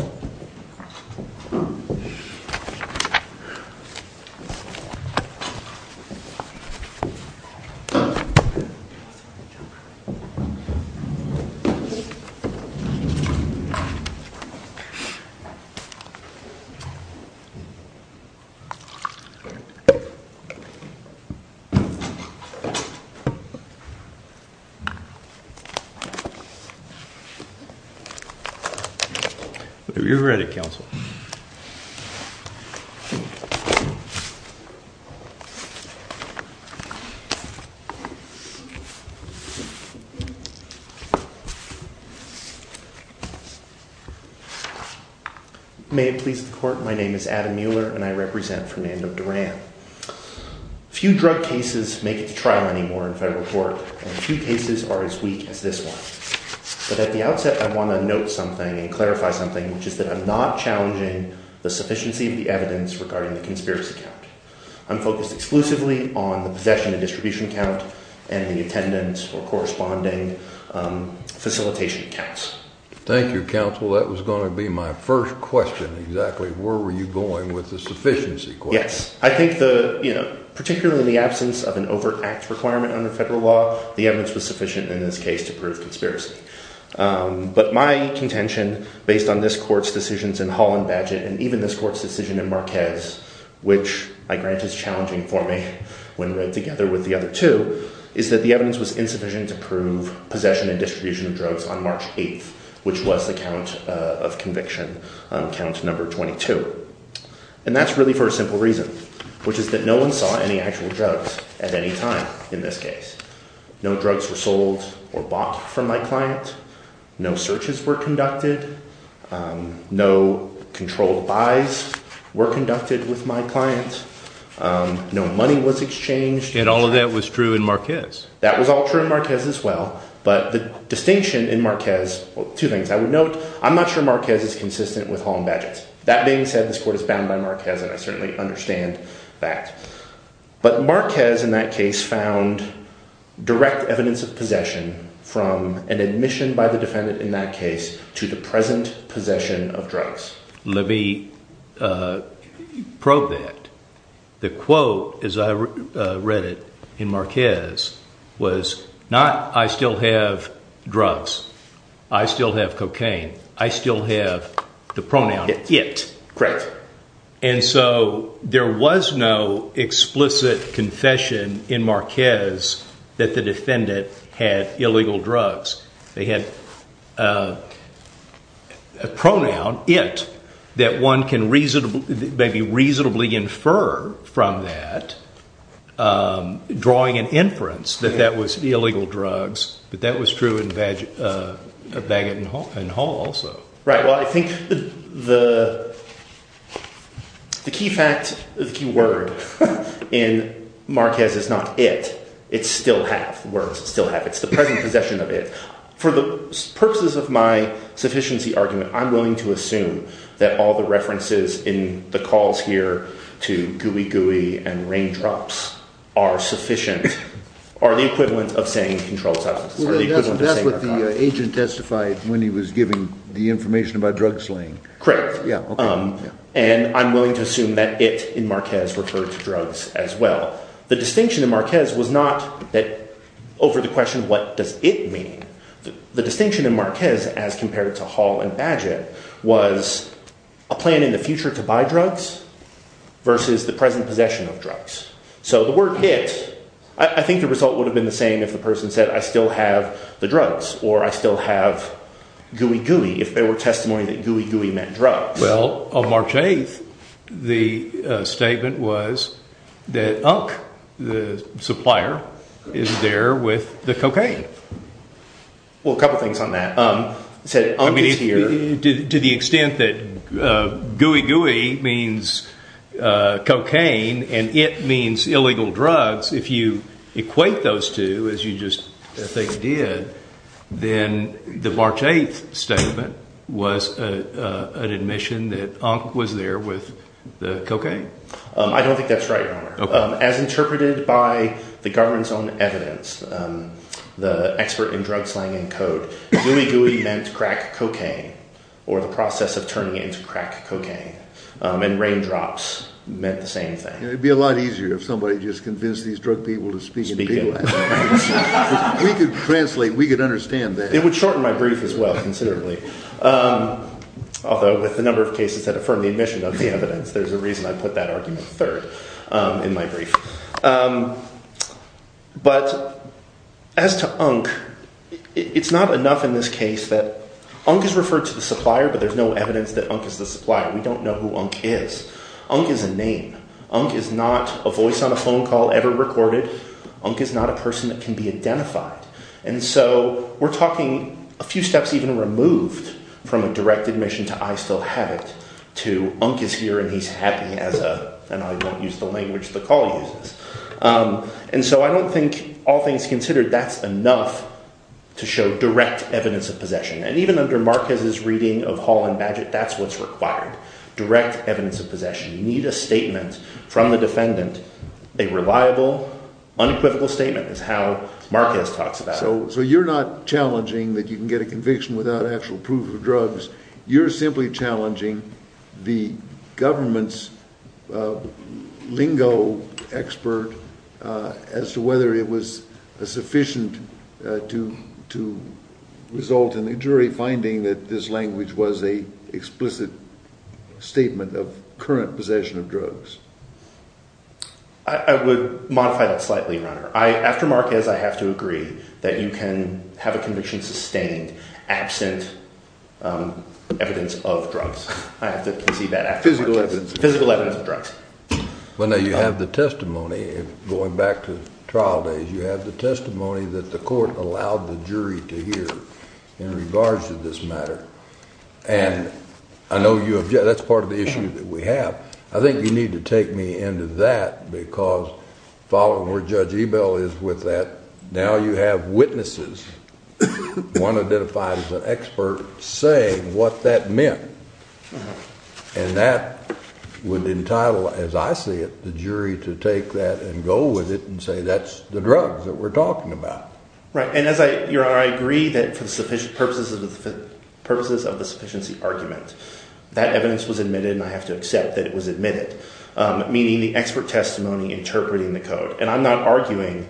Hey, guys! Have you read it, Counsel? May it please the Court, my name is Adam Mueller, and I represent Fernando Duran. Few drug cases make it to trial anymore in federal court, and few cases are as weak as this one. But at the outset, I want to note something and clarify something, which is that I'm not challenging the sufficiency of the evidence regarding the conspiracy count. I'm focused exclusively on the possession and distribution count and the attendance or corresponding facilitation counts. Thank you, Counsel. That was going to be my first question exactly, where were you going with the sufficiency question? Yes. I think the, you know, particularly in the absence of an overt act requirement under federal law, the evidence was sufficient in this case to prove conspiracy. But my contention, based on this court's decisions in Hall and Badgett, and even this court's decision in Marquez, which I grant is challenging for me when read together with the other two, is that the evidence was insufficient to prove possession and distribution of drugs on March 8th, which was the count of conviction, count number 22. And that's really for a simple reason, which is that no one saw any actual drugs at any time in this case. No drugs were sold or bought from my client. No searches were conducted. No controlled buys were conducted with my client. No money was exchanged. And all of that was true in Marquez. That was all true in Marquez as well. But the distinction in Marquez, two things I would note, I'm not sure Marquez is consistent with Hall and Badgett. That being said, this court is bound by Marquez and I certainly understand that. But Marquez, in that case, found direct evidence of possession from an admission by the defendant in that case to the present possession of drugs. Let me probe that. The quote, as I read it in Marquez, was not, I still have drugs. I still have cocaine. I still have the pronoun it. Correct. And so there was no explicit confession in Marquez that the defendant had illegal drugs. They had a pronoun, it, that one can maybe reasonably infer from that, drawing an inference that that was illegal drugs, but that was true in Badgett and Hall also. Right. Well, I think the key fact, the key word in Marquez is not it, it's still have, the words still have. It's the present possession of it. For the purposes of my sufficiency argument, I'm willing to assume that all the references in the calls here to Gooey Gooey and Raindrops are sufficient, are the equivalent of saying controlled substances. That's what the agent testified when he was giving the information about drug slaying. Correct. Yeah. And I'm willing to assume that it in Marquez referred to drugs as well. The distinction in Marquez was not that over the question, what does it mean? The distinction in Marquez as compared to Hall and Badgett was a plan in the future to buy drugs versus the present possession of drugs. So the word it, I think the result would have been the same if the person said, I still have the drugs or I still have Gooey Gooey, if there were testimony that Gooey Gooey meant drugs. Well, on March 8th, the statement was that Unk, the supplier, is there with the cocaine. Well, a couple of things on that, to the extent that Gooey Gooey means cocaine and it means then the March 8th statement was an admission that Unk was there with the cocaine. I don't think that's right, Your Honor. As interpreted by the government's own evidence, the expert in drug slaying and code, Gooey Gooey meant crack cocaine or the process of turning it into crack cocaine and Raindrops meant the same thing. It'd be a lot easier if somebody just convinced these drug people to speak. We could translate, we could understand that. It would shorten my brief as well considerably, although with the number of cases that affirmed the admission of the evidence, there's a reason I put that argument third in my brief. But as to Unk, it's not enough in this case that Unk is referred to the supplier, but there's no evidence that Unk is the supplier. We don't know who Unk is. Unk is a name. Unk is not a voice on a phone call ever recorded. Unk is not a person that can be identified. And so we're talking a few steps even removed from a direct admission to I still have it to Unk is here and he's happy and I won't use the language the call uses. And so I don't think, all things considered, that's enough to show direct evidence of possession. And even under Marquez's reading of Hall and Badgett, that's what's required. Direct evidence of possession. You need a statement from the defendant, a reliable, unequivocal statement is how Marquez talks about it. So you're not challenging that you can get a conviction without actual proof of drugs. You're simply challenging the government's lingo expert as to whether it was sufficient to result in a jury finding that this language was a explicit statement of current possession of drugs. I would modify that slightly, Your Honor. After Marquez, I have to agree that you can have a conviction sustained absent evidence of drugs. I have to concede that. Physical evidence. Physical evidence of drugs. Well, now you have the testimony going back to trial days. You have the testimony that the court allowed the jury to hear in regards to this matter. And I know you object. That's part of the issue that we have. I think you need to take me into that because following where Judge Ebell is with that, now you have witnesses, one identified as an expert, saying what that meant. And that would entitle, as I see it, the jury to take that and go with it and say that's the drugs that we're talking about. Right. And Your Honor, I agree that for the purposes of the sufficiency argument, that evidence was admitted and I have to accept that it was admitted, meaning the expert testimony interpreting the code. And I'm not arguing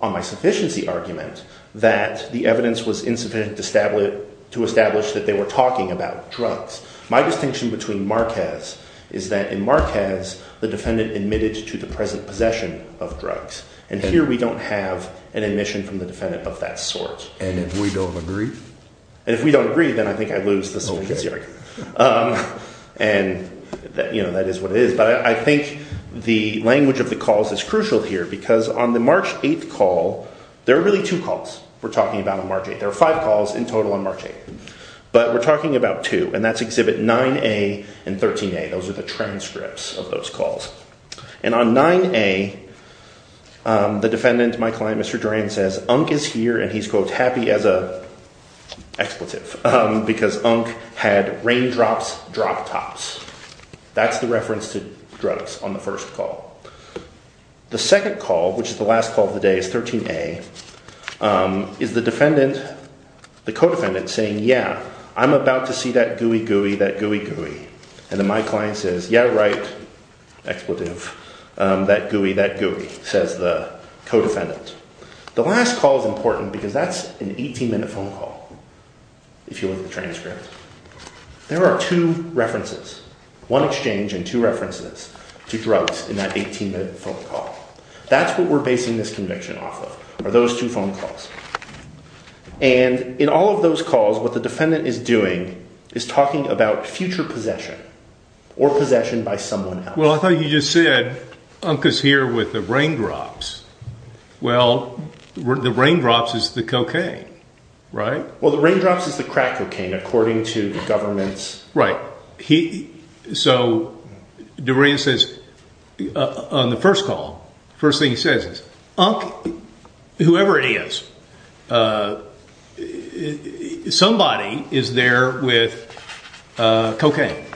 on my sufficiency argument that the evidence was insufficient to establish that they were talking about drugs. My distinction between Marquez is that in Marquez, the defendant admitted to the present possession of drugs. And here we don't have an admission from the defendant of that sort. And if we don't agree? And if we don't agree, then I think I lose the sufficiency argument. And that is what it is. But I think the language of the calls is crucial here because on the March 8th call, there are really two calls we're talking about on March 8th. There are five calls in total on March 8th. But we're talking about two. And that's exhibit 9A and 13A. Those are the transcripts of those calls. And on 9A, the defendant, my client, Mr. Duran, says Unk is here and he's, quote, happy as a expletive because Unk had raindrops drop tops. That's the reference to drugs on the first call. The second call, which is the last call of the day, is 13A, is the defendant, the co-defendant saying, yeah, I'm about to see that gooey gooey, that gooey gooey. And then my client says, yeah, right, expletive, that gooey, that gooey, says the co-defendant. The last call is important because that's an 18-minute phone call if you look at the transcript. There are two references, one exchange and two references to drugs in that 18-minute phone call. That's what we're basing this conviction off of are those two phone calls. And in all of those calls, what the defendant is doing is talking about future possession or possession by someone else. Well, I thought you just said Unk is here with the raindrops. Well, the raindrops is the cocaine, right? Well, the raindrops is the crack cocaine, according to the government's law. Right. So Durant says on the first call, the first thing he says is, Unk, whoever it is, somebody is there with cocaine,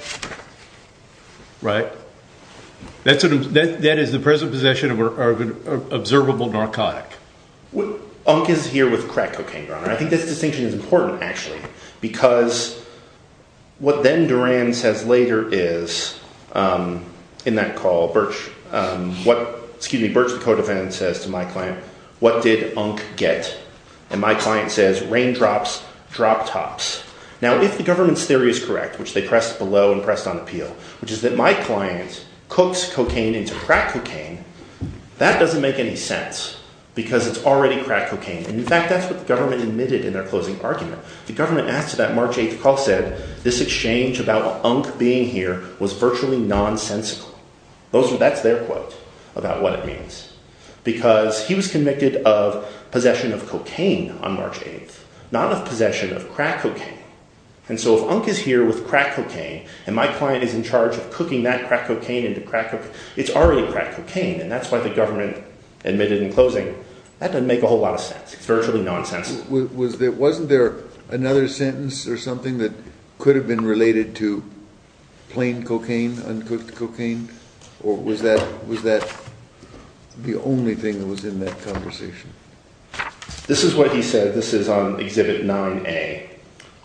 right? That is the present possession of an observable narcotic. Unk is here with crack cocaine, Your Honor. I think this distinction is important, actually, because what then Durant says later is, in that call, Birch, excuse me, Birch the co-defendant says to my client, what did Unk get? And my client says, raindrops, drop tops. Now, if the government's theory is correct, which they pressed below and pressed on appeal, which is that my client cooks cocaine into crack cocaine, that doesn't make any sense because it's already crack cocaine. In fact, that's what the government admitted in their closing argument. The government asked that March 8th call said, this exchange about Unk being here was virtually nonsensical. That's their quote about what it means. Because he was convicted of possession of cocaine on March 8th, not of possession of crack cocaine. And so if Unk is here with crack cocaine, and my client is in charge of cooking that crack cocaine into crack cocaine, it's already crack cocaine. And that's why the government admitted in closing, that doesn't make a whole lot of sense. It's virtually nonsensical. Wasn't there another sentence or something that could have been related to plain cocaine, uncooked cocaine? Or was that the only thing that was in that conversation? This is what he said. This is on Exhibit 9A.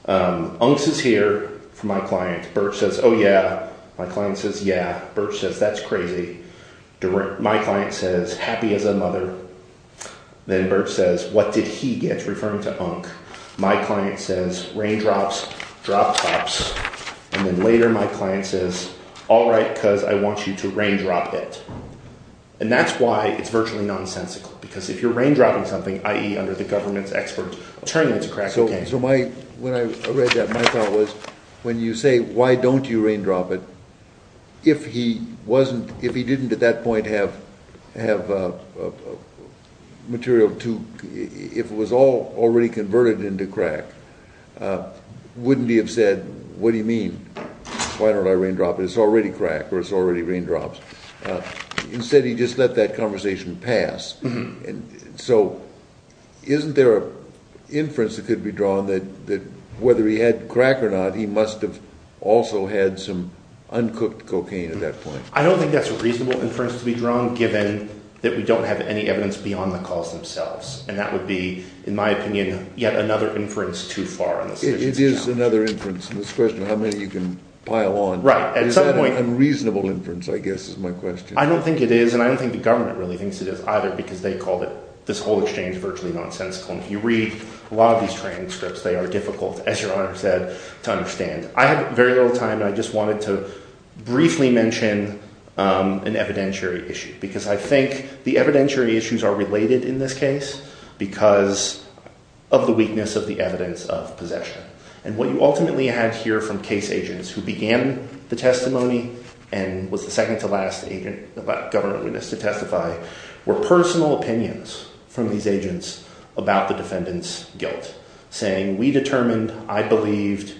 Unk is here for my client. Birch says, oh yeah. My client says, yeah. Birch says, that's crazy. My client says, happy as a mother. Then Birch says, what did he get? Referring to Unk. My client says, raindrops, drop tops. And then later my client says, all right, because I want you to raindrop it. And that's why it's virtually nonsensical. Because if you're raindropping something, i.e. under the government's expert, turn it into crack cocaine. When I read that, my thought was, when you say, why don't you raindrop it, if he didn't at that point have material to, if it was all already converted into crack, wouldn't he have said, what do you mean? Why don't I raindrop it? It's already crack, or it's already raindrops. Instead, he just let that conversation pass. So isn't there an inference that could be drawn that whether he had crack or not, he must have also had some uncooked cocaine at that point? I don't think that's a reasonable inference to be drawn, given that we don't have any evidence beyond the cause themselves. And that would be, in my opinion, yet another inference too far on the efficiency challenge. It is another inference. This question of how many you can pile on. Right. Is that an unreasonable inference, I guess, is my question. I don't think it is, and I don't think the government really thinks it is either, because they call this whole exchange virtually nonsensical. And if you read a lot of these transcripts, they are difficult, as Your Honor said, to understand. I have very little time, and I just wanted to briefly mention an evidentiary issue. Because I think the evidentiary issues are related in this case because of the weakness of the evidence of possession. And what you ultimately had here from case agents who began the testimony and was the second-to-last government witness to testify were personal opinions from these agents about the defendant's guilt, saying we determined, I believed,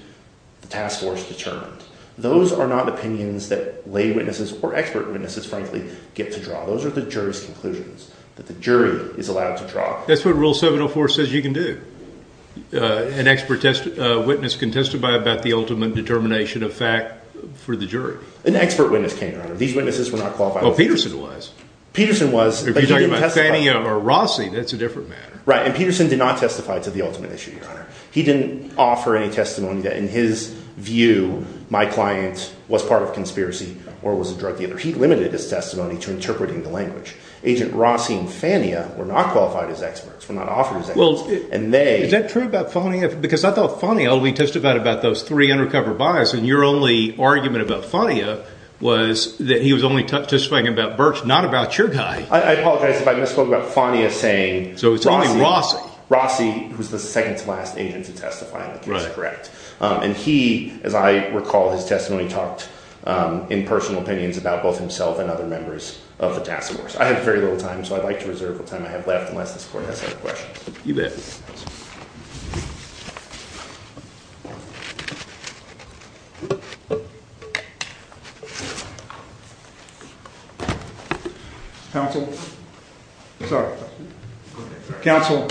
the task force determined. Those are not opinions that lay witnesses or expert witnesses, frankly, get to draw. Those are the jury's conclusions that the jury is allowed to draw. That's what Rule 704 says you can do. An expert witness can testify about the ultimate determination of fact for the jury. An expert witness can't, Your Honor. These witnesses were not qualified. Well, Peterson was. Peterson was, but he didn't testify. If you're talking about Fania or Rossi, that's a different matter. Right. And Peterson did not testify to the ultimate issue, Your Honor. He didn't offer any testimony that, in his view, my client was part of a conspiracy or was a drug dealer. He limited his testimony to interpreting the language. Agent Rossi and Fania were not qualified as experts, were not offered as experts, and they— Well, is that true about Fania? Because I thought Fania only testified about those three undercover buyers, and your only argument about Fania was that he was only testifying about Burch, not about your guy. I apologize if I misspoke about Fania saying Rossi. So it's only Rossi. Rossi was the second-to-last agent to testify in the case, correct? Right. And he, as I recall his testimony, talked in personal opinions about both himself and other members of the task force. I have very little time, so I'd like to reserve the time I have left unless this court has other questions. You bet. Counsel? Sorry. Counsel,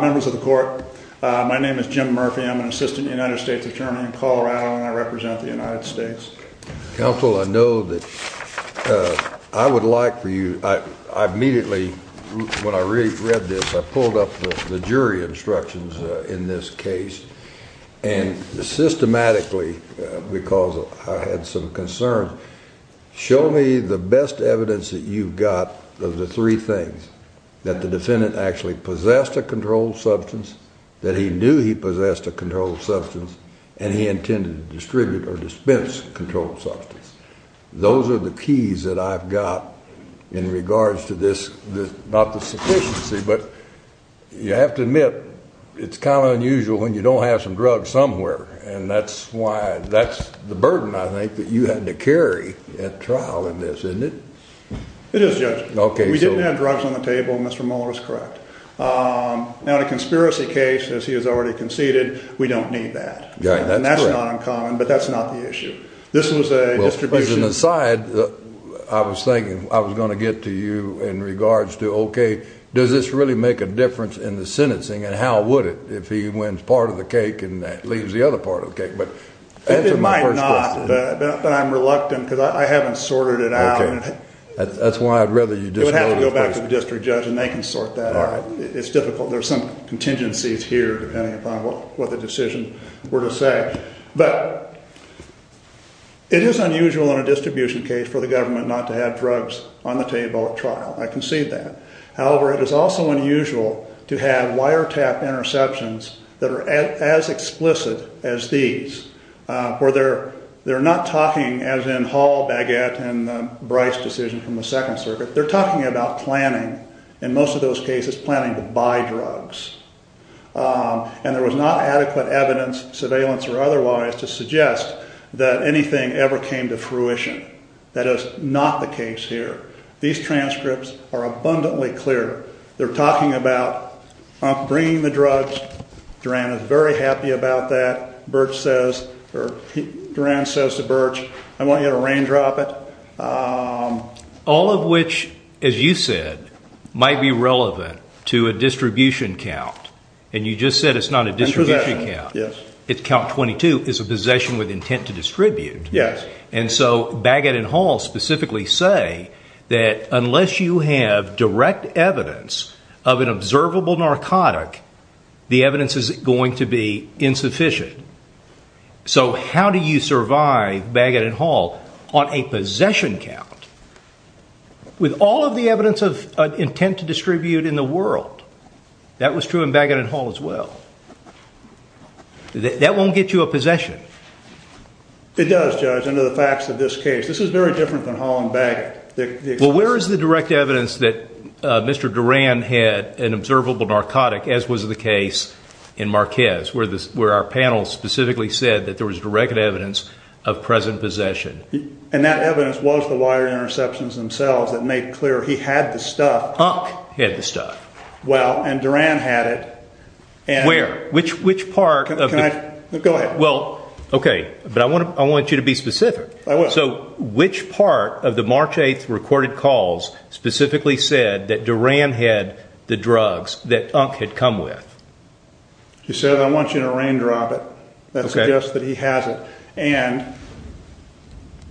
members of the court, my name is Jim Murphy. I'm an assistant United States attorney in Colorado, and I represent the United States. Counsel, I know that I would like for you—I immediately, when I read this, I pulled up the jury instructions in this case, and systematically, because I had some concerns, show me the best evidence that you've got of the three things, that the defendant actually possessed a controlled substance, that he knew he possessed a controlled substance, and he intended to distribute or dispense controlled substance. Those are the keys that I've got in regards to this—not the sufficiency, but you have to admit it's kind of unusual when you don't have some drugs somewhere. And that's why—that's the burden, I think, that you had to carry at trial in this, isn't it? It is, Judge. Okay, so— We didn't have drugs on the table, and Mr. Mueller is correct. Now, in a conspiracy case, as he has already conceded, we don't need that. Yeah, that's correct. And that's not uncommon, but that's not the issue. This was a distribution— It might not, but I'm reluctant, because I haven't sorted it out. Okay. That's why I'd rather you just— It would have to go back to the district judge, and they can sort that out. All right. It's difficult. There's some contingencies here, depending upon what the decision were to say. But it is unusual in a distribution case for the government not to have drugs on the table at trial. I concede that. However, it is also unusual to have wiretap interceptions that are as explicit as these, where they're not talking, as in Hall, Baguette, and Bryce's decision from the Second Circuit. They're talking about planning, in most of those cases, planning to buy drugs. And there was not adequate evidence, surveillance or otherwise, to suggest that anything ever came to fruition. That is not the case here. These transcripts are abundantly clear. They're talking about bringing the drugs. Duran is very happy about that. Burch says—Duran says to Burch, I want you to raindrop it. All of which, as you said, might be relevant to a distribution count. And you just said it's not a distribution count. It's a possession, yes. Count 22 is a possession with intent to distribute. Yes. And so Baguette and Hall specifically say that unless you have direct evidence of an observable narcotic, the evidence is going to be insufficient. So how do you survive, Baguette and Hall, on a possession count? With all of the evidence of intent to distribute in the world. That was true in Baguette and Hall as well. That won't get you a possession. It does, Judge, under the facts of this case. This is very different than Hall and Baguette. Well, where is the direct evidence that Mr. Duran had an observable narcotic, as was the case in Marquez, where our panel specifically said that there was direct evidence of present possession? And that evidence was the wire interceptions themselves that made clear he had the stuff. Unk had the stuff. Well, and Duran had it. Where? Which part of the— Go ahead. Well, okay, but I want you to be specific. I will. So which part of the March 8th recorded calls specifically said that Duran had the drugs that Unk had come with? He said, I want you to raindrop it. That suggests that he has it. And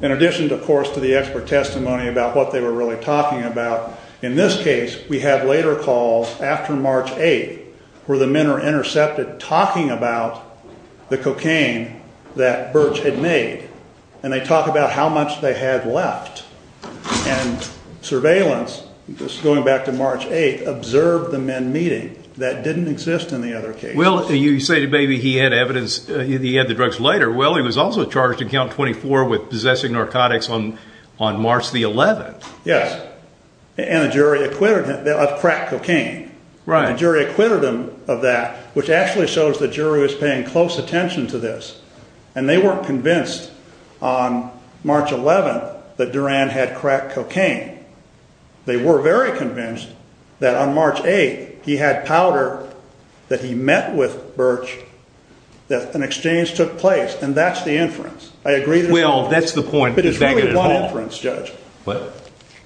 in addition, of course, to the expert testimony about what they were really talking about, in this case we have later calls after March 8th where the men are intercepted talking about the cocaine that Birch had made. And they talk about how much they had left. And surveillance, just going back to March 8th, observed the men meeting. That didn't exist in the other cases. Well, you say maybe he had evidence, he had the drugs later. Well, he was also charged in Count 24 with possessing narcotics on March the 11th. Yes. And the jury acquitted him of crack cocaine. Right. The jury acquitted him of that, which actually shows the jury was paying close attention to this. And they weren't convinced on March 11th that Duran had crack cocaine. They were very convinced that on March 8th he had powder that he met with Birch, that an exchange took place. And that's the inference. I agree— Well, that's the point. But it's really one inference, Judge. What?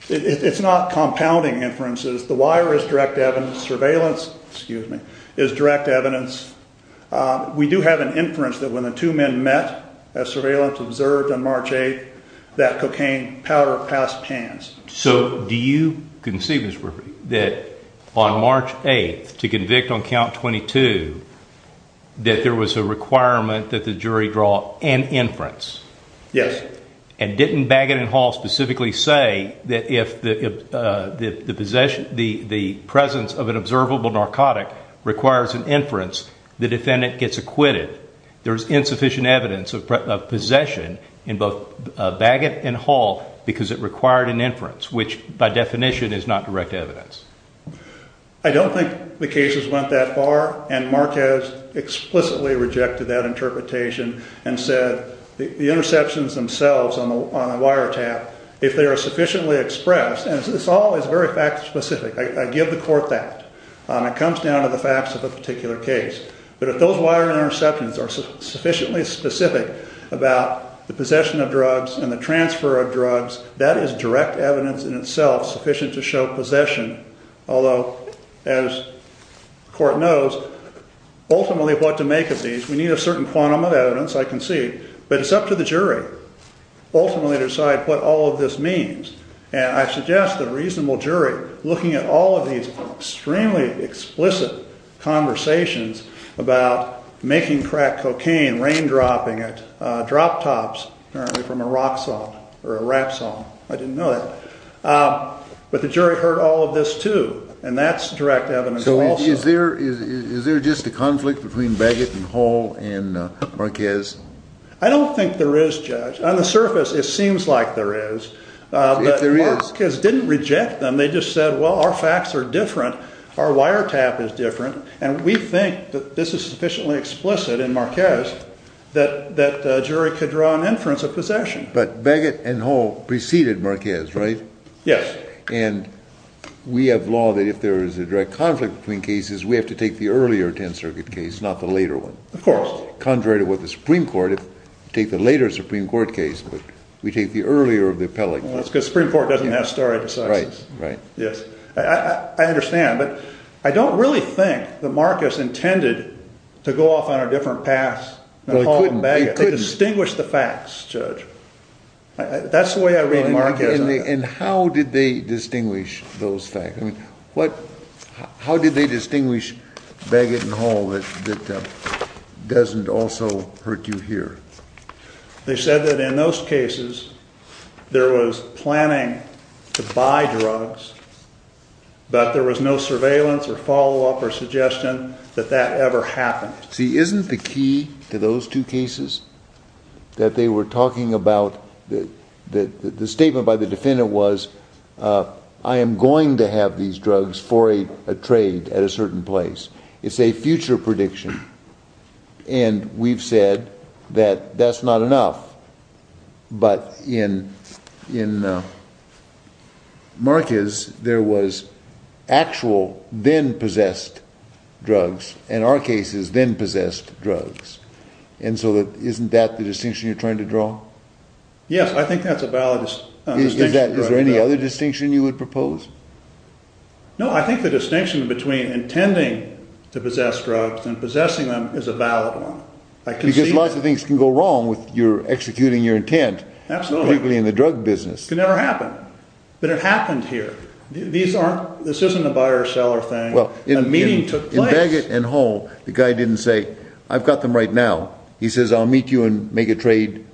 It's not compounding inferences. The wire is direct evidence. Surveillance, excuse me, is direct evidence. We do have an inference that when the two men met, as surveillance observed on March 8th, that cocaine powder passed pans. So do you conceive, Mr. Murphy, that on March 8th, to convict on Count 22, that there was a requirement that the jury draw an inference? Yes. And didn't Bagot and Hall specifically say that if the presence of an observable narcotic requires an inference, the defendant gets acquitted? There's insufficient evidence of possession in both Bagot and Hall because it required an inference, which by definition is not direct evidence. I don't think the cases went that far. And Marquez explicitly rejected that interpretation and said the interceptions themselves on the wiretap, if they are sufficiently expressed— and this all is very fact-specific. I give the court that. It comes down to the facts of a particular case. But if those wire interceptions are sufficiently specific about the possession of drugs and the transfer of drugs, that is direct evidence in itself sufficient to show possession. Although, as the court knows, ultimately what to make of these, we need a certain quantum of evidence, I concede, but it's up to the jury ultimately to decide what all of this means. And I suggest the reasonable jury, looking at all of these extremely explicit conversations about making crack cocaine, raindropping it, drop tops, apparently from a rock saw or a rap saw. I didn't know that. But the jury heard all of this too. And that's direct evidence also. So is there just a conflict between Bagot and Hall and Marquez? I don't think there is, Judge. On the surface, it seems like there is. But Marquez didn't reject them. They just said, well, our facts are different. Our wiretap is different. And we think that this is sufficiently explicit in Marquez that a jury could draw an inference of possession. But Bagot and Hall preceded Marquez, right? Yes. And we have law that if there is a direct conflict between cases, we have to take the earlier 10th Circuit case, not the later one. Of course. Contrary to what the Supreme Court, if you take the later Supreme Court case, we take the earlier of the appellate case. Well, that's because the Supreme Court doesn't have stare decisis. Right, right. Yes. I understand, but I don't really think that Marquez intended to go off on a different path than Hall and Bagot. Well, he couldn't. They distinguished the facts, Judge. That's the way I read Marquez. And how did they distinguish those facts? How did they distinguish Bagot and Hall that doesn't also hurt you here? They said that in those cases, there was planning to buy drugs, but there was no surveillance or follow-up or suggestion that that ever happened. See, isn't the key to those two cases that they were talking about? The statement by the defendant was, I am going to have these drugs for a trade at a certain place. It's a future prediction. And we've said that that's not enough. But in Marquez, there was actual then-possessed drugs, in our cases, then-possessed drugs. And so isn't that the distinction you're trying to draw? Yes, I think that's a valid distinction. Is there any other distinction you would propose? No, I think the distinction between intending to possess drugs and possessing them is a valid one. Because lots of things can go wrong with your executing your intent, particularly in the drug business. It could never happen. But it happened here. This isn't a buyer-seller thing. A meeting took place. In Bagot and Hall, the guy didn't say, I've got them right now. He says, I'll meet you and make a trade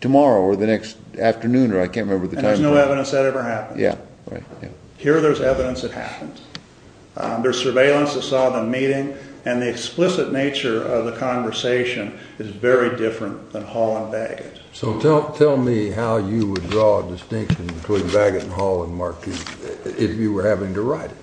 tomorrow or the next afternoon or I can't remember the time. And there's no evidence that ever happened. Here there's evidence it happened. There's surveillance that saw the meeting. And the explicit nature of the conversation is very different than Hall and Bagot. So tell me how you would draw a distinction between Bagot and Hall and Marquez if you were having to write it.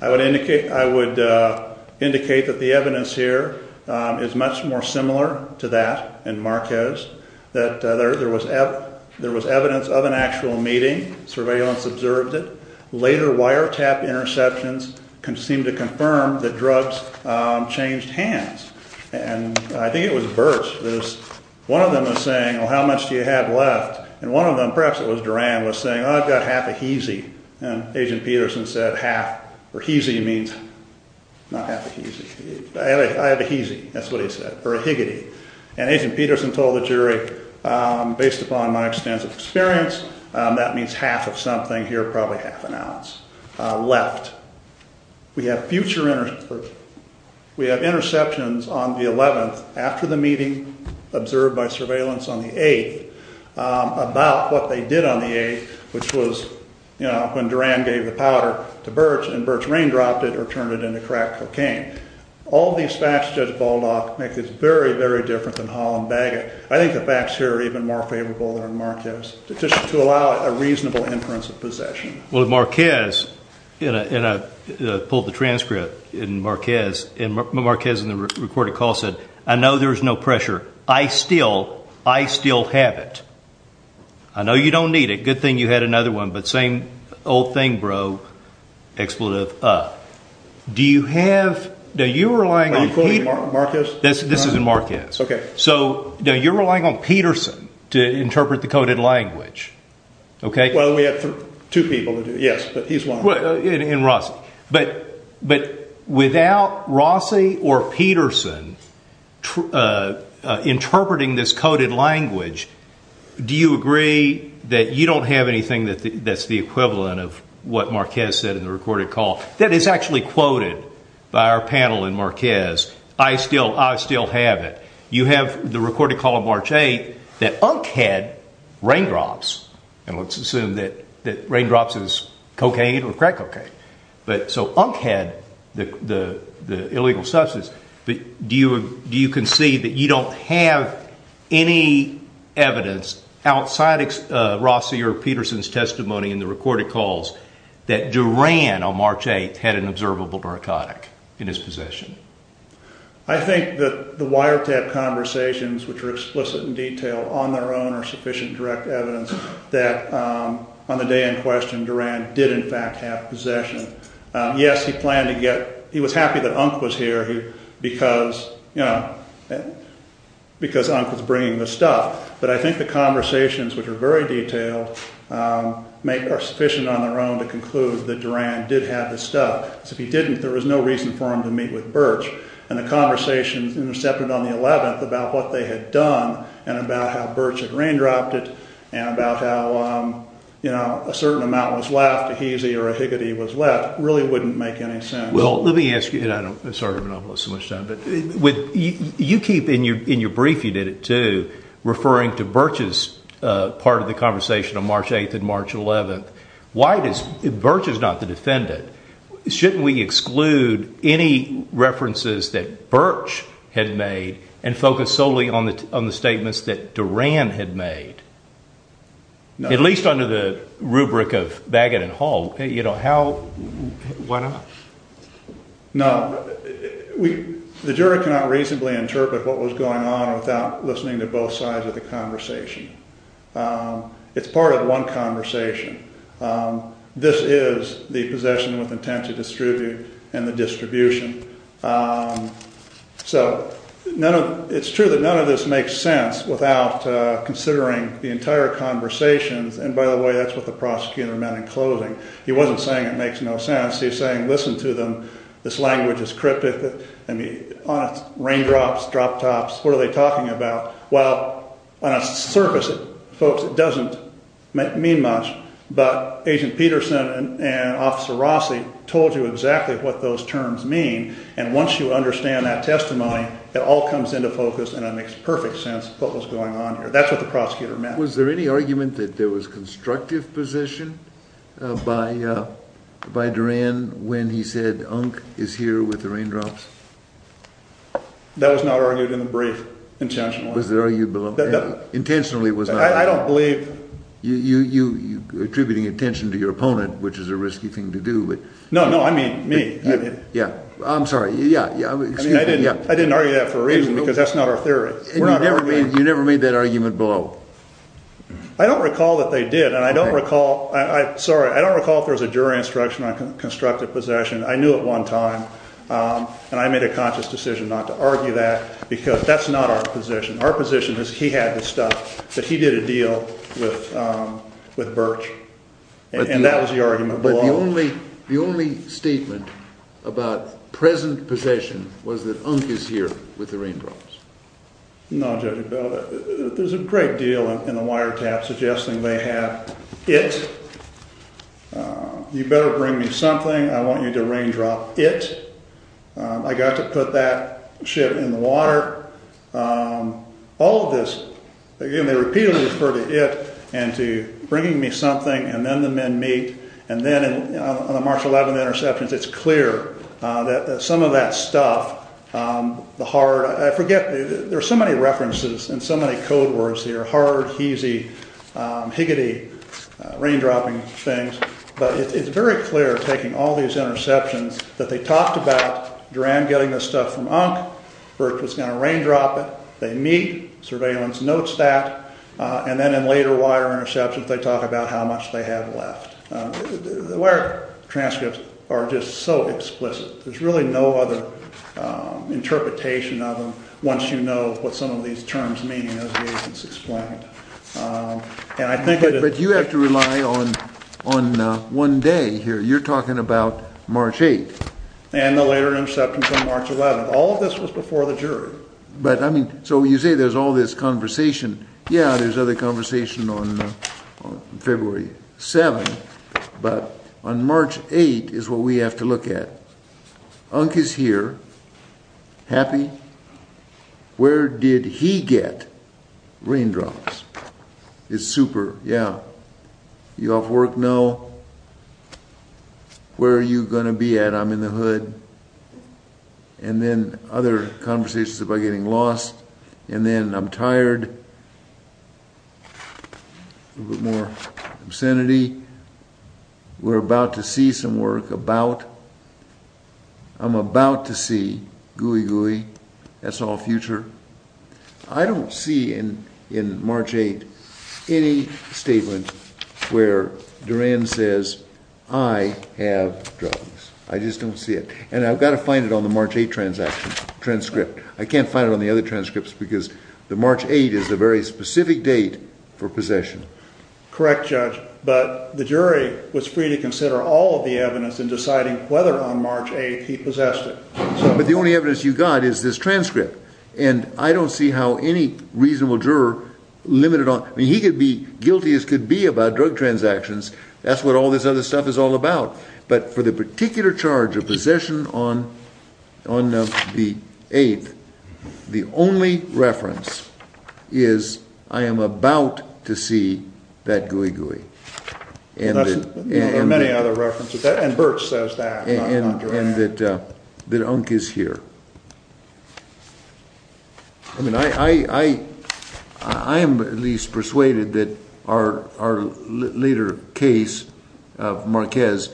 I would indicate that the evidence here is much more similar to that in Marquez. That there was evidence of an actual meeting. Surveillance observed it. Later wiretap interceptions seemed to confirm that drugs changed hands. And I think it was Birch. One of them was saying, well, how much do you have left? And one of them, perhaps it was Duran, was saying, oh, I've got half a heezy. And Agent Peterson said half. Or heezy means not half a heezy. I have a heezy. That's what he said. Or a higgity. And Agent Peterson told the jury, based upon my extensive experience, that means half of something here, probably half an ounce left. We have future interceptions on the 11th after the meeting observed by surveillance on the 8th about what they did on the 8th, which was when Duran gave the powder to Birch and Birch raindropped it or turned it into crack cocaine. All these facts, Judge Baldock, make this very, very different than Hall and Bagot. I think the facts here are even more favorable than Marquez. Just to allow a reasonable inference of possession. Well, Marquez, and I pulled the transcript in Marquez. And Marquez in the recorded call said, I know there's no pressure. I still have it. I know you don't need it. Good thing you had another one. But same old thing, bro. Expletive. Do you have? Are you quoting Marquez? This is in Marquez. Okay. So you're relying on Peterson to interpret the coded language, okay? Well, we have two people. Yes, but he's one. And Rossi. But without Rossi or Peterson interpreting this coded language, do you agree that you don't have anything that's the equivalent of what Marquez said in the recorded call? That is actually quoted by our panel in Marquez. I still have it. You have the recorded call of March 8th that Unk had raindrops. And let's assume that raindrops is cocaine or crack cocaine. So Unk had the illegal substance. But do you concede that you don't have any evidence outside of Rossi or Peterson's testimony in the recorded calls that Duran on March 8th had an observable narcotic in his possession? I think that the wiretap conversations, which are explicit and detailed on their own, are sufficient direct evidence that on the day in question Duran did in fact have possession. Yes, he planned to get – he was happy that Unk was here because, you know, because Unk was bringing the stuff. But I think the conversations, which are very detailed, are sufficient on their own to conclude that Duran did have the stuff. Because if he didn't, there was no reason for him to meet with Birch. And the conversations intercepted on the 11th about what they had done and about how Birch had raindropped it and about how, you know, a certain amount was left, a heezy or a higgity was left, really wouldn't make any sense. Well, let me ask you – and I'm sorry to monopolize so much time – but you keep in your brief, you did it too, referring to Birch's part of the conversation on March 8th and March 11th. Why does – Birch is not the defendant. Shouldn't we exclude any references that Birch had made and focus solely on the statements that Duran had made? At least under the rubric of Baggett and Hall. You know, how – why not? No. The jury cannot reasonably interpret what was going on without listening to both sides of the conversation. It's part of one conversation. This is the possession with intent to distribute and the distribution. So none of – it's true that none of this makes sense without considering the entire conversations. And by the way, that's what the prosecutor meant in closing. He wasn't saying it makes no sense. He's saying, listen to them. This language is cryptic. I mean, raindrops, drop tops, what are they talking about? Well, on a surface, folks, it doesn't mean much. But Agent Peterson and Officer Rossi told you exactly what those terms mean. And once you understand that testimony, it all comes into focus and it makes perfect sense what was going on here. That's what the prosecutor meant. Was there any argument that there was constructive possession by Duran when he said Unk is here with the raindrops? That was not argued in the brief intentionally. Was it argued below? Intentionally it was not. I don't believe. You're attributing attention to your opponent, which is a risky thing to do. No, no, I mean me. Yeah. I'm sorry. Yeah. I didn't argue that for a reason because that's not our theory. You never made that argument below. I don't recall that they did. And I don't recall – sorry. I don't recall if there was a jury instruction on constructive possession. I knew at one time. And I made a conscious decision not to argue that because that's not our position. Our position is he had the stuff, but he did a deal with Birch. And that was the argument below. But the only statement about present possession was that Unk is here with the raindrops. No, Judge, there's a great deal in the wiretap suggesting they have it. You better bring me something. I want you to raindrop it. I got to put that ship in the water. All of this, again, they repeatedly refer to it and to bringing me something and then the men meet. And then on the March 11th interceptions, it's clear that some of that stuff, the hard – I forget. There are so many references and so many code words here. Hard, heasy, higgity, raindropping things. But it's very clear, taking all these interceptions, that they talked about Duran getting the stuff from Unk. Birch was going to raindrop it. They meet. Surveillance notes that. And then in later wire interceptions, they talk about how much they have left. The wire transcripts are just so explicit. There's really no other interpretation of them once you know what some of these terms mean, as the agents explained. But you have to rely on one day here. You're talking about March 8th. And the later interceptions on March 11th. All of this was before the jury. So you say there's all this conversation. Yeah, there's other conversation on February 7th. But on March 8th is what we have to look at. Unk is here. Happy. Where did he get raindrops? It's super. Yeah. You off work? No. Where are you going to be at? I'm in the hood. And then other conversations about getting lost. And then I'm tired. A little bit more obscenity. We're about to see some work. About. I'm about to see gooey gooey. That's all future. I don't see in March 8th any statement where Duran says I have drugs. I just don't see it. And I've got to find it on the March 8th transcript. I can't find it on the other transcripts because the March 8th is a very specific date for possession. Correct, Judge. But the jury was free to consider all of the evidence in deciding whether on March 8th he possessed it. But the only evidence you got is this transcript. And I don't see how any reasonable juror limited on. I mean, he could be guilty as could be about drug transactions. That's what all this other stuff is all about. But for the particular charge of possession on the 8th, the only reference is I am about to see that gooey gooey. There are many other references. And Birch says that. And that Unk is here. I mean, I am at least persuaded that our later case of Marquez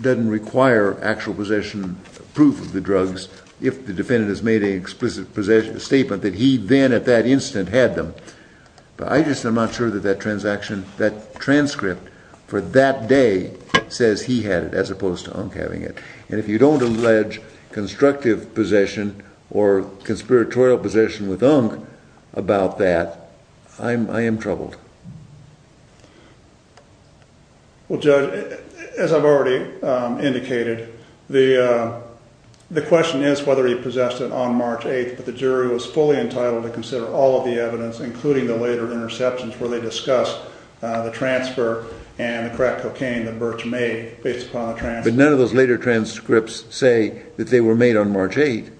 doesn't require actual possession proof of the drugs if the defendant has made an explicit statement that he then at that instant had them. But I just am not sure that that transcript for that day says he had it as opposed to Unk having it. And if you don't allege constructive possession or conspiratorial possession with Unk about that, I am troubled. Well, Judge, as I've already indicated, the question is whether he possessed it on March 8th. But the jury was fully entitled to consider all of the evidence, including the later interceptions, where they discussed the transfer and the crack cocaine that Birch made based upon the transcript. Could none of those later transcripts say that they were made on March 8th?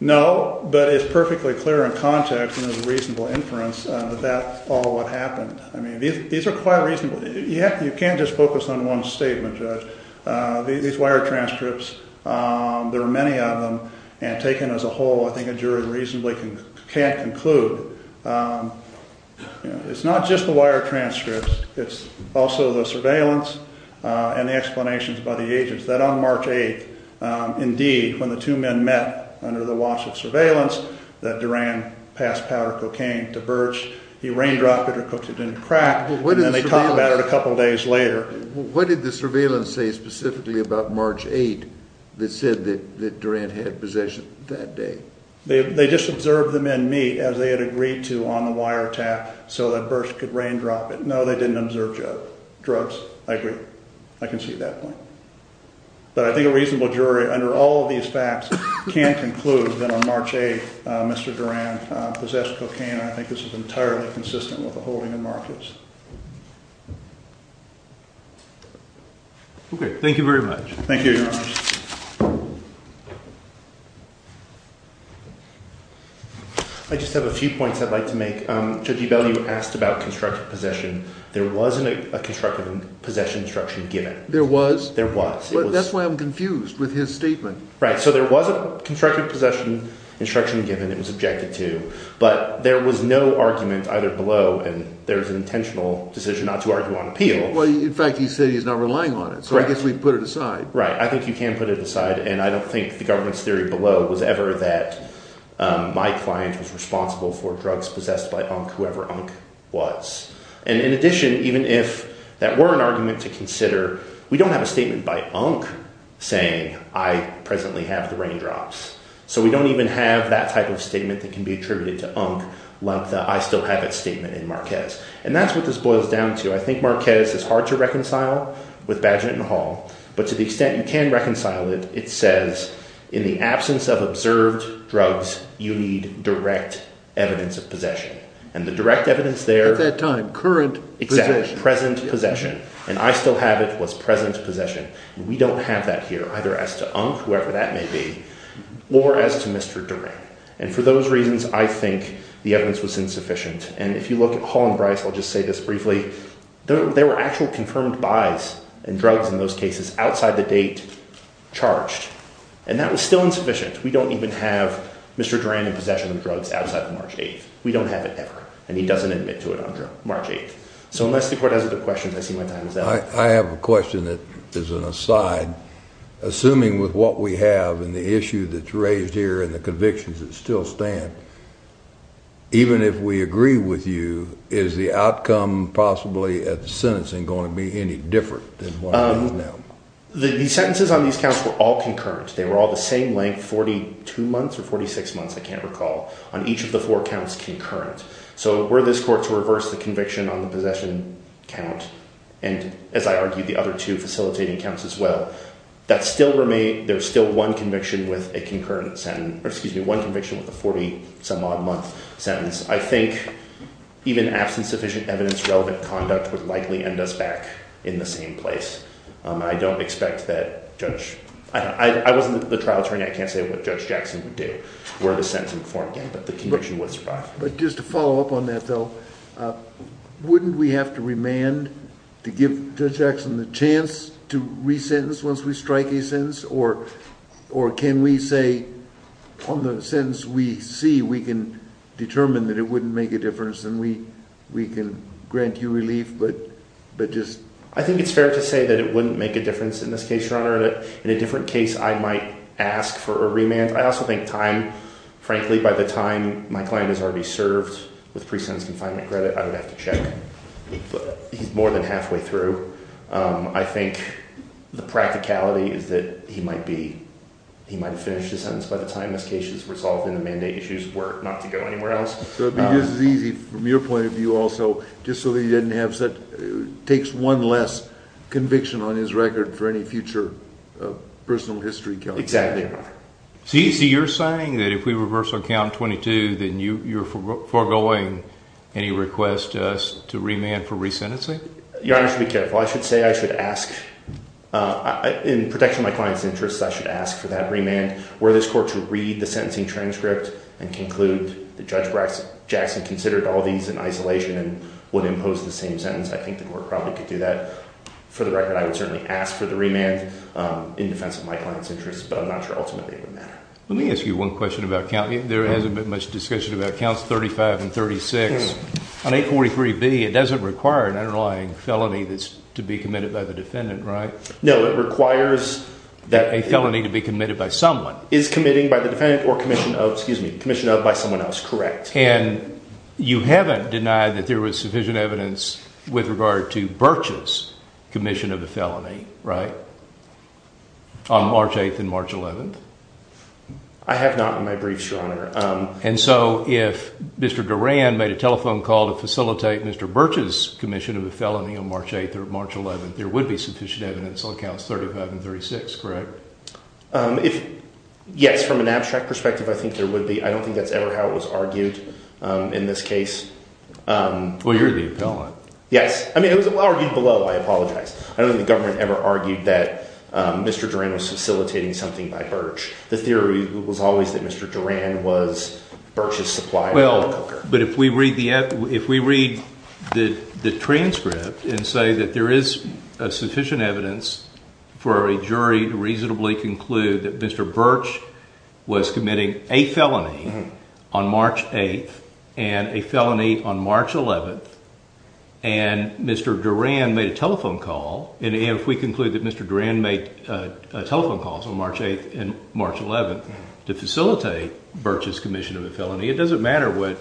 No, but it's perfectly clear in context and there's a reasonable inference that that's all what happened. I mean, these are quite reasonable. You can't just focus on one statement, Judge. These wire transcripts, there are many of them. And taken as a whole, I think a jury reasonably can't conclude. It's not just the wire transcripts. It's also the surveillance and the explanations by the agents that on March 8th, indeed, when the two men met under the watch of surveillance that Duran passed powder cocaine to Birch, he raindropped it or cooked it in a crack, and then they talk about it a couple of days later. What did the surveillance say specifically about March 8th that said that Duran had possession that day? They just observed the men meet as they had agreed to on the wire tap so that Birch could raindrop it. No, they didn't observe drugs. I agree. I can see that point. But I think a reasonable jury under all of these facts can conclude that on March 8th, Mr. Duran possessed cocaine. I think this is entirely consistent with the holding of markets. Okay. Thank you very much. Thank you, Your Honor. I just have a few points I'd like to make. Judge Ebell, you asked about constructive possession. There wasn't a constructive possession instruction given. There was? There was. That's why I'm confused with his statement. Right. So there was a constructive possession instruction given. It was objected to. But there was no argument either below, and there's an intentional decision not to argue on appeal. Well, in fact, he said he's not relying on it, so I guess we can put it aside. Right. I think you can put it aside. And I don't think the government's theory below was ever that my client was responsible for drugs possessed by Unk, whoever Unk was. And in addition, even if that were an argument to consider, we don't have a statement by Unk saying, I presently have the raindrops. So we don't even have that type of statement that can be attributed to Unk like the I still have it statement in Marquez. And that's what this boils down to. I think Marquez is hard to reconcile with Badginton Hall. But to the extent you can reconcile it, it says in the absence of observed drugs, you need direct evidence of possession. And the direct evidence there. At that time, current. Exactly. Present possession. And I still have it was present possession. We don't have that here, either as to Unk, whoever that may be, or as to Mr. Durant. And for those reasons, I think the evidence was insufficient. And if you look at Hall and Bryce, I'll just say this briefly. There were actual confirmed buys and drugs in those cases outside the date charged. And that was still insufficient. We don't even have Mr. Durant in possession of drugs outside of March 8th. We don't have it ever. And he doesn't admit to it on March 8th. So unless the court has other questions, I see my time is up. I have a question that is an aside. Assuming with what we have and the issue that's raised here and the convictions that still stand, even if we agree with you, is the outcome possibly at the sentencing going to be any different than what it is now? The sentences on these counts were all concurrent. They were all the same length, 42 months or 46 months, I can't recall, on each of the four counts concurrent. So were this court to reverse the conviction on the possession count and, as I argued, the other two facilitating counts as well, there's still one conviction with a 40-some-odd-month sentence. I think even absence-sufficient evidence-relevant conduct would likely end us back in the same place. I don't expect that Judge – I wasn't the trial attorney. I can't say what Judge Jackson would do were the sentence informed again, but the conviction would survive. But just to follow up on that, though, wouldn't we have to remand to give Judge Jackson the chance to resentence once we strike a sentence? Or can we say on the sentence we see we can determine that it wouldn't make a difference and we can grant you relief, but just – I think it's fair to say that it wouldn't make a difference in this case, Your Honor. In a different case, I might ask for a remand. I also think time – frankly, by the time my client is already served with pre-sentence confinement credit, I would have to check. But he's more than halfway through. I think the practicality is that he might be – he might have finished his sentence by the time this case is resolved and the mandate issues were not to go anywhere else. So it would be just as easy from your point of view also, just so that he didn't have – takes one less conviction on his record for any future personal history counts. Exactly, Your Honor. So you're saying that if we reverse on count 22, then you're foregoing any request to us to remand for resentencing? Your Honor, I should be careful. I should say I should ask – in protection of my client's interests, I should ask for that remand. Were this court to read the sentencing transcript and conclude that Judge Jackson considered all these in isolation and would impose the same sentence, I think the court probably could do that. For the record, I would certainly ask for the remand in defense of my client's interests, but I'm not sure ultimately it would matter. Let me ask you one question about counts. There hasn't been much discussion about counts 35 and 36. On 843B, it doesn't require an underlying felony that's to be committed by the defendant, right? No, it requires that – A felony to be committed by someone. Is committing by the defendant or commission of – excuse me – commission of by someone else correct? And you haven't denied that there was sufficient evidence with regard to Birch's commission of a felony, right, on March 8th and March 11th? I have not in my briefs, Your Honor. And so if Mr. Duran made a telephone call to facilitate Mr. Birch's commission of a felony on March 8th or March 11th, there would be sufficient evidence on counts 35 and 36, correct? If – yes, from an abstract perspective, I think there would be. I don't think that's ever how it was argued in this case. Well, you're the appellant. Yes. I mean, it was argued below. I apologize. I don't think the government ever argued that Mr. Duran was facilitating something by Birch. The theory was always that Mr. Duran was Birch's supplier. Well, but if we read the transcript and say that there is sufficient evidence for a jury to reasonably conclude that Mr. Birch was committing a felony on March 8th and a felony on March 11th, and Mr. Duran made a telephone call, and if we conclude that Mr. Duran made telephone calls on March 8th and March 11th to facilitate Birch's commission of a felony, it doesn't matter what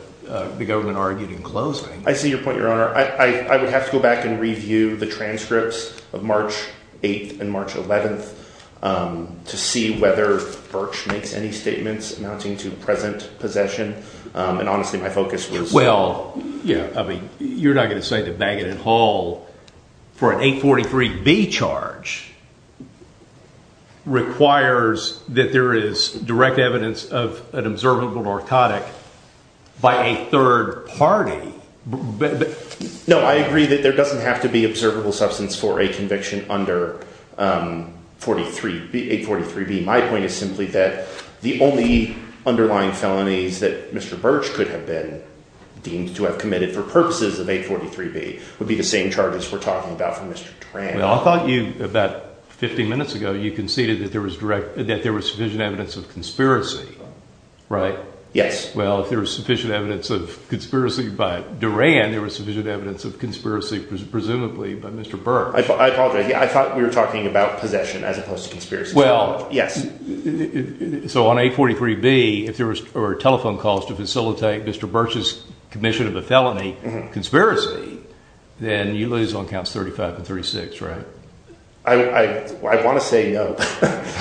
the government argued in closing. I see your point, Your Honor. I would have to go back and review the transcripts of March 8th and March 11th to see whether Birch makes any statements amounting to present possession. Well, I mean, you're not going to say that Magan and Hall, for an 843B charge, requires that there is direct evidence of an observable narcotic by a third party. No, I agree that there doesn't have to be observable substance for a conviction under 843B. My point is simply that the only underlying felonies that Mr. Birch could have been deemed to have committed for purposes of 843B would be the same charges we're talking about for Mr. Duran. Well, I thought you, about 50 minutes ago, you conceded that there was sufficient evidence of conspiracy, right? Yes. Well, if there was sufficient evidence of conspiracy by Duran, there was sufficient evidence of conspiracy, presumably, by Mr. Birch. I apologize. I thought we were talking about possession as opposed to conspiracy. Well, so on 843B, if there were telephone calls to facilitate Mr. Birch's commission of a felony conspiracy, then you lose on counts 35 and 36, right? I want to say no.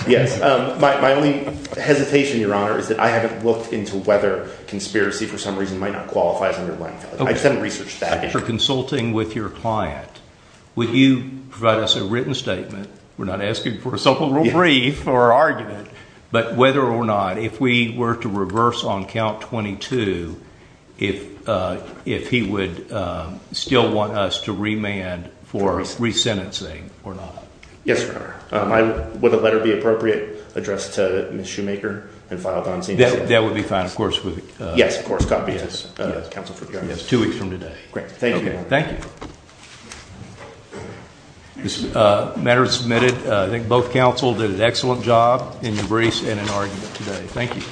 Yes. My only hesitation, Your Honor, is that I haven't looked into whether conspiracy for some reason might not qualify as an underlying felony. I just haven't researched that. After consulting with your client, would you provide us a written statement? We're not asking for a so-called brief or argument, but whether or not, if we were to reverse on count 22, if he would still want us to remand for resentencing or not. Yes, Your Honor. Would a letter be appropriate addressed to Ms. Shoemaker and filed on scene? That would be fine, of course. Yes, of course. Copy to the counsel for the audience. Two weeks from today. Great. Thank you. Thank you. This matter is submitted. I think both counsel did an excellent job in your briefs and in argument today. Thank you.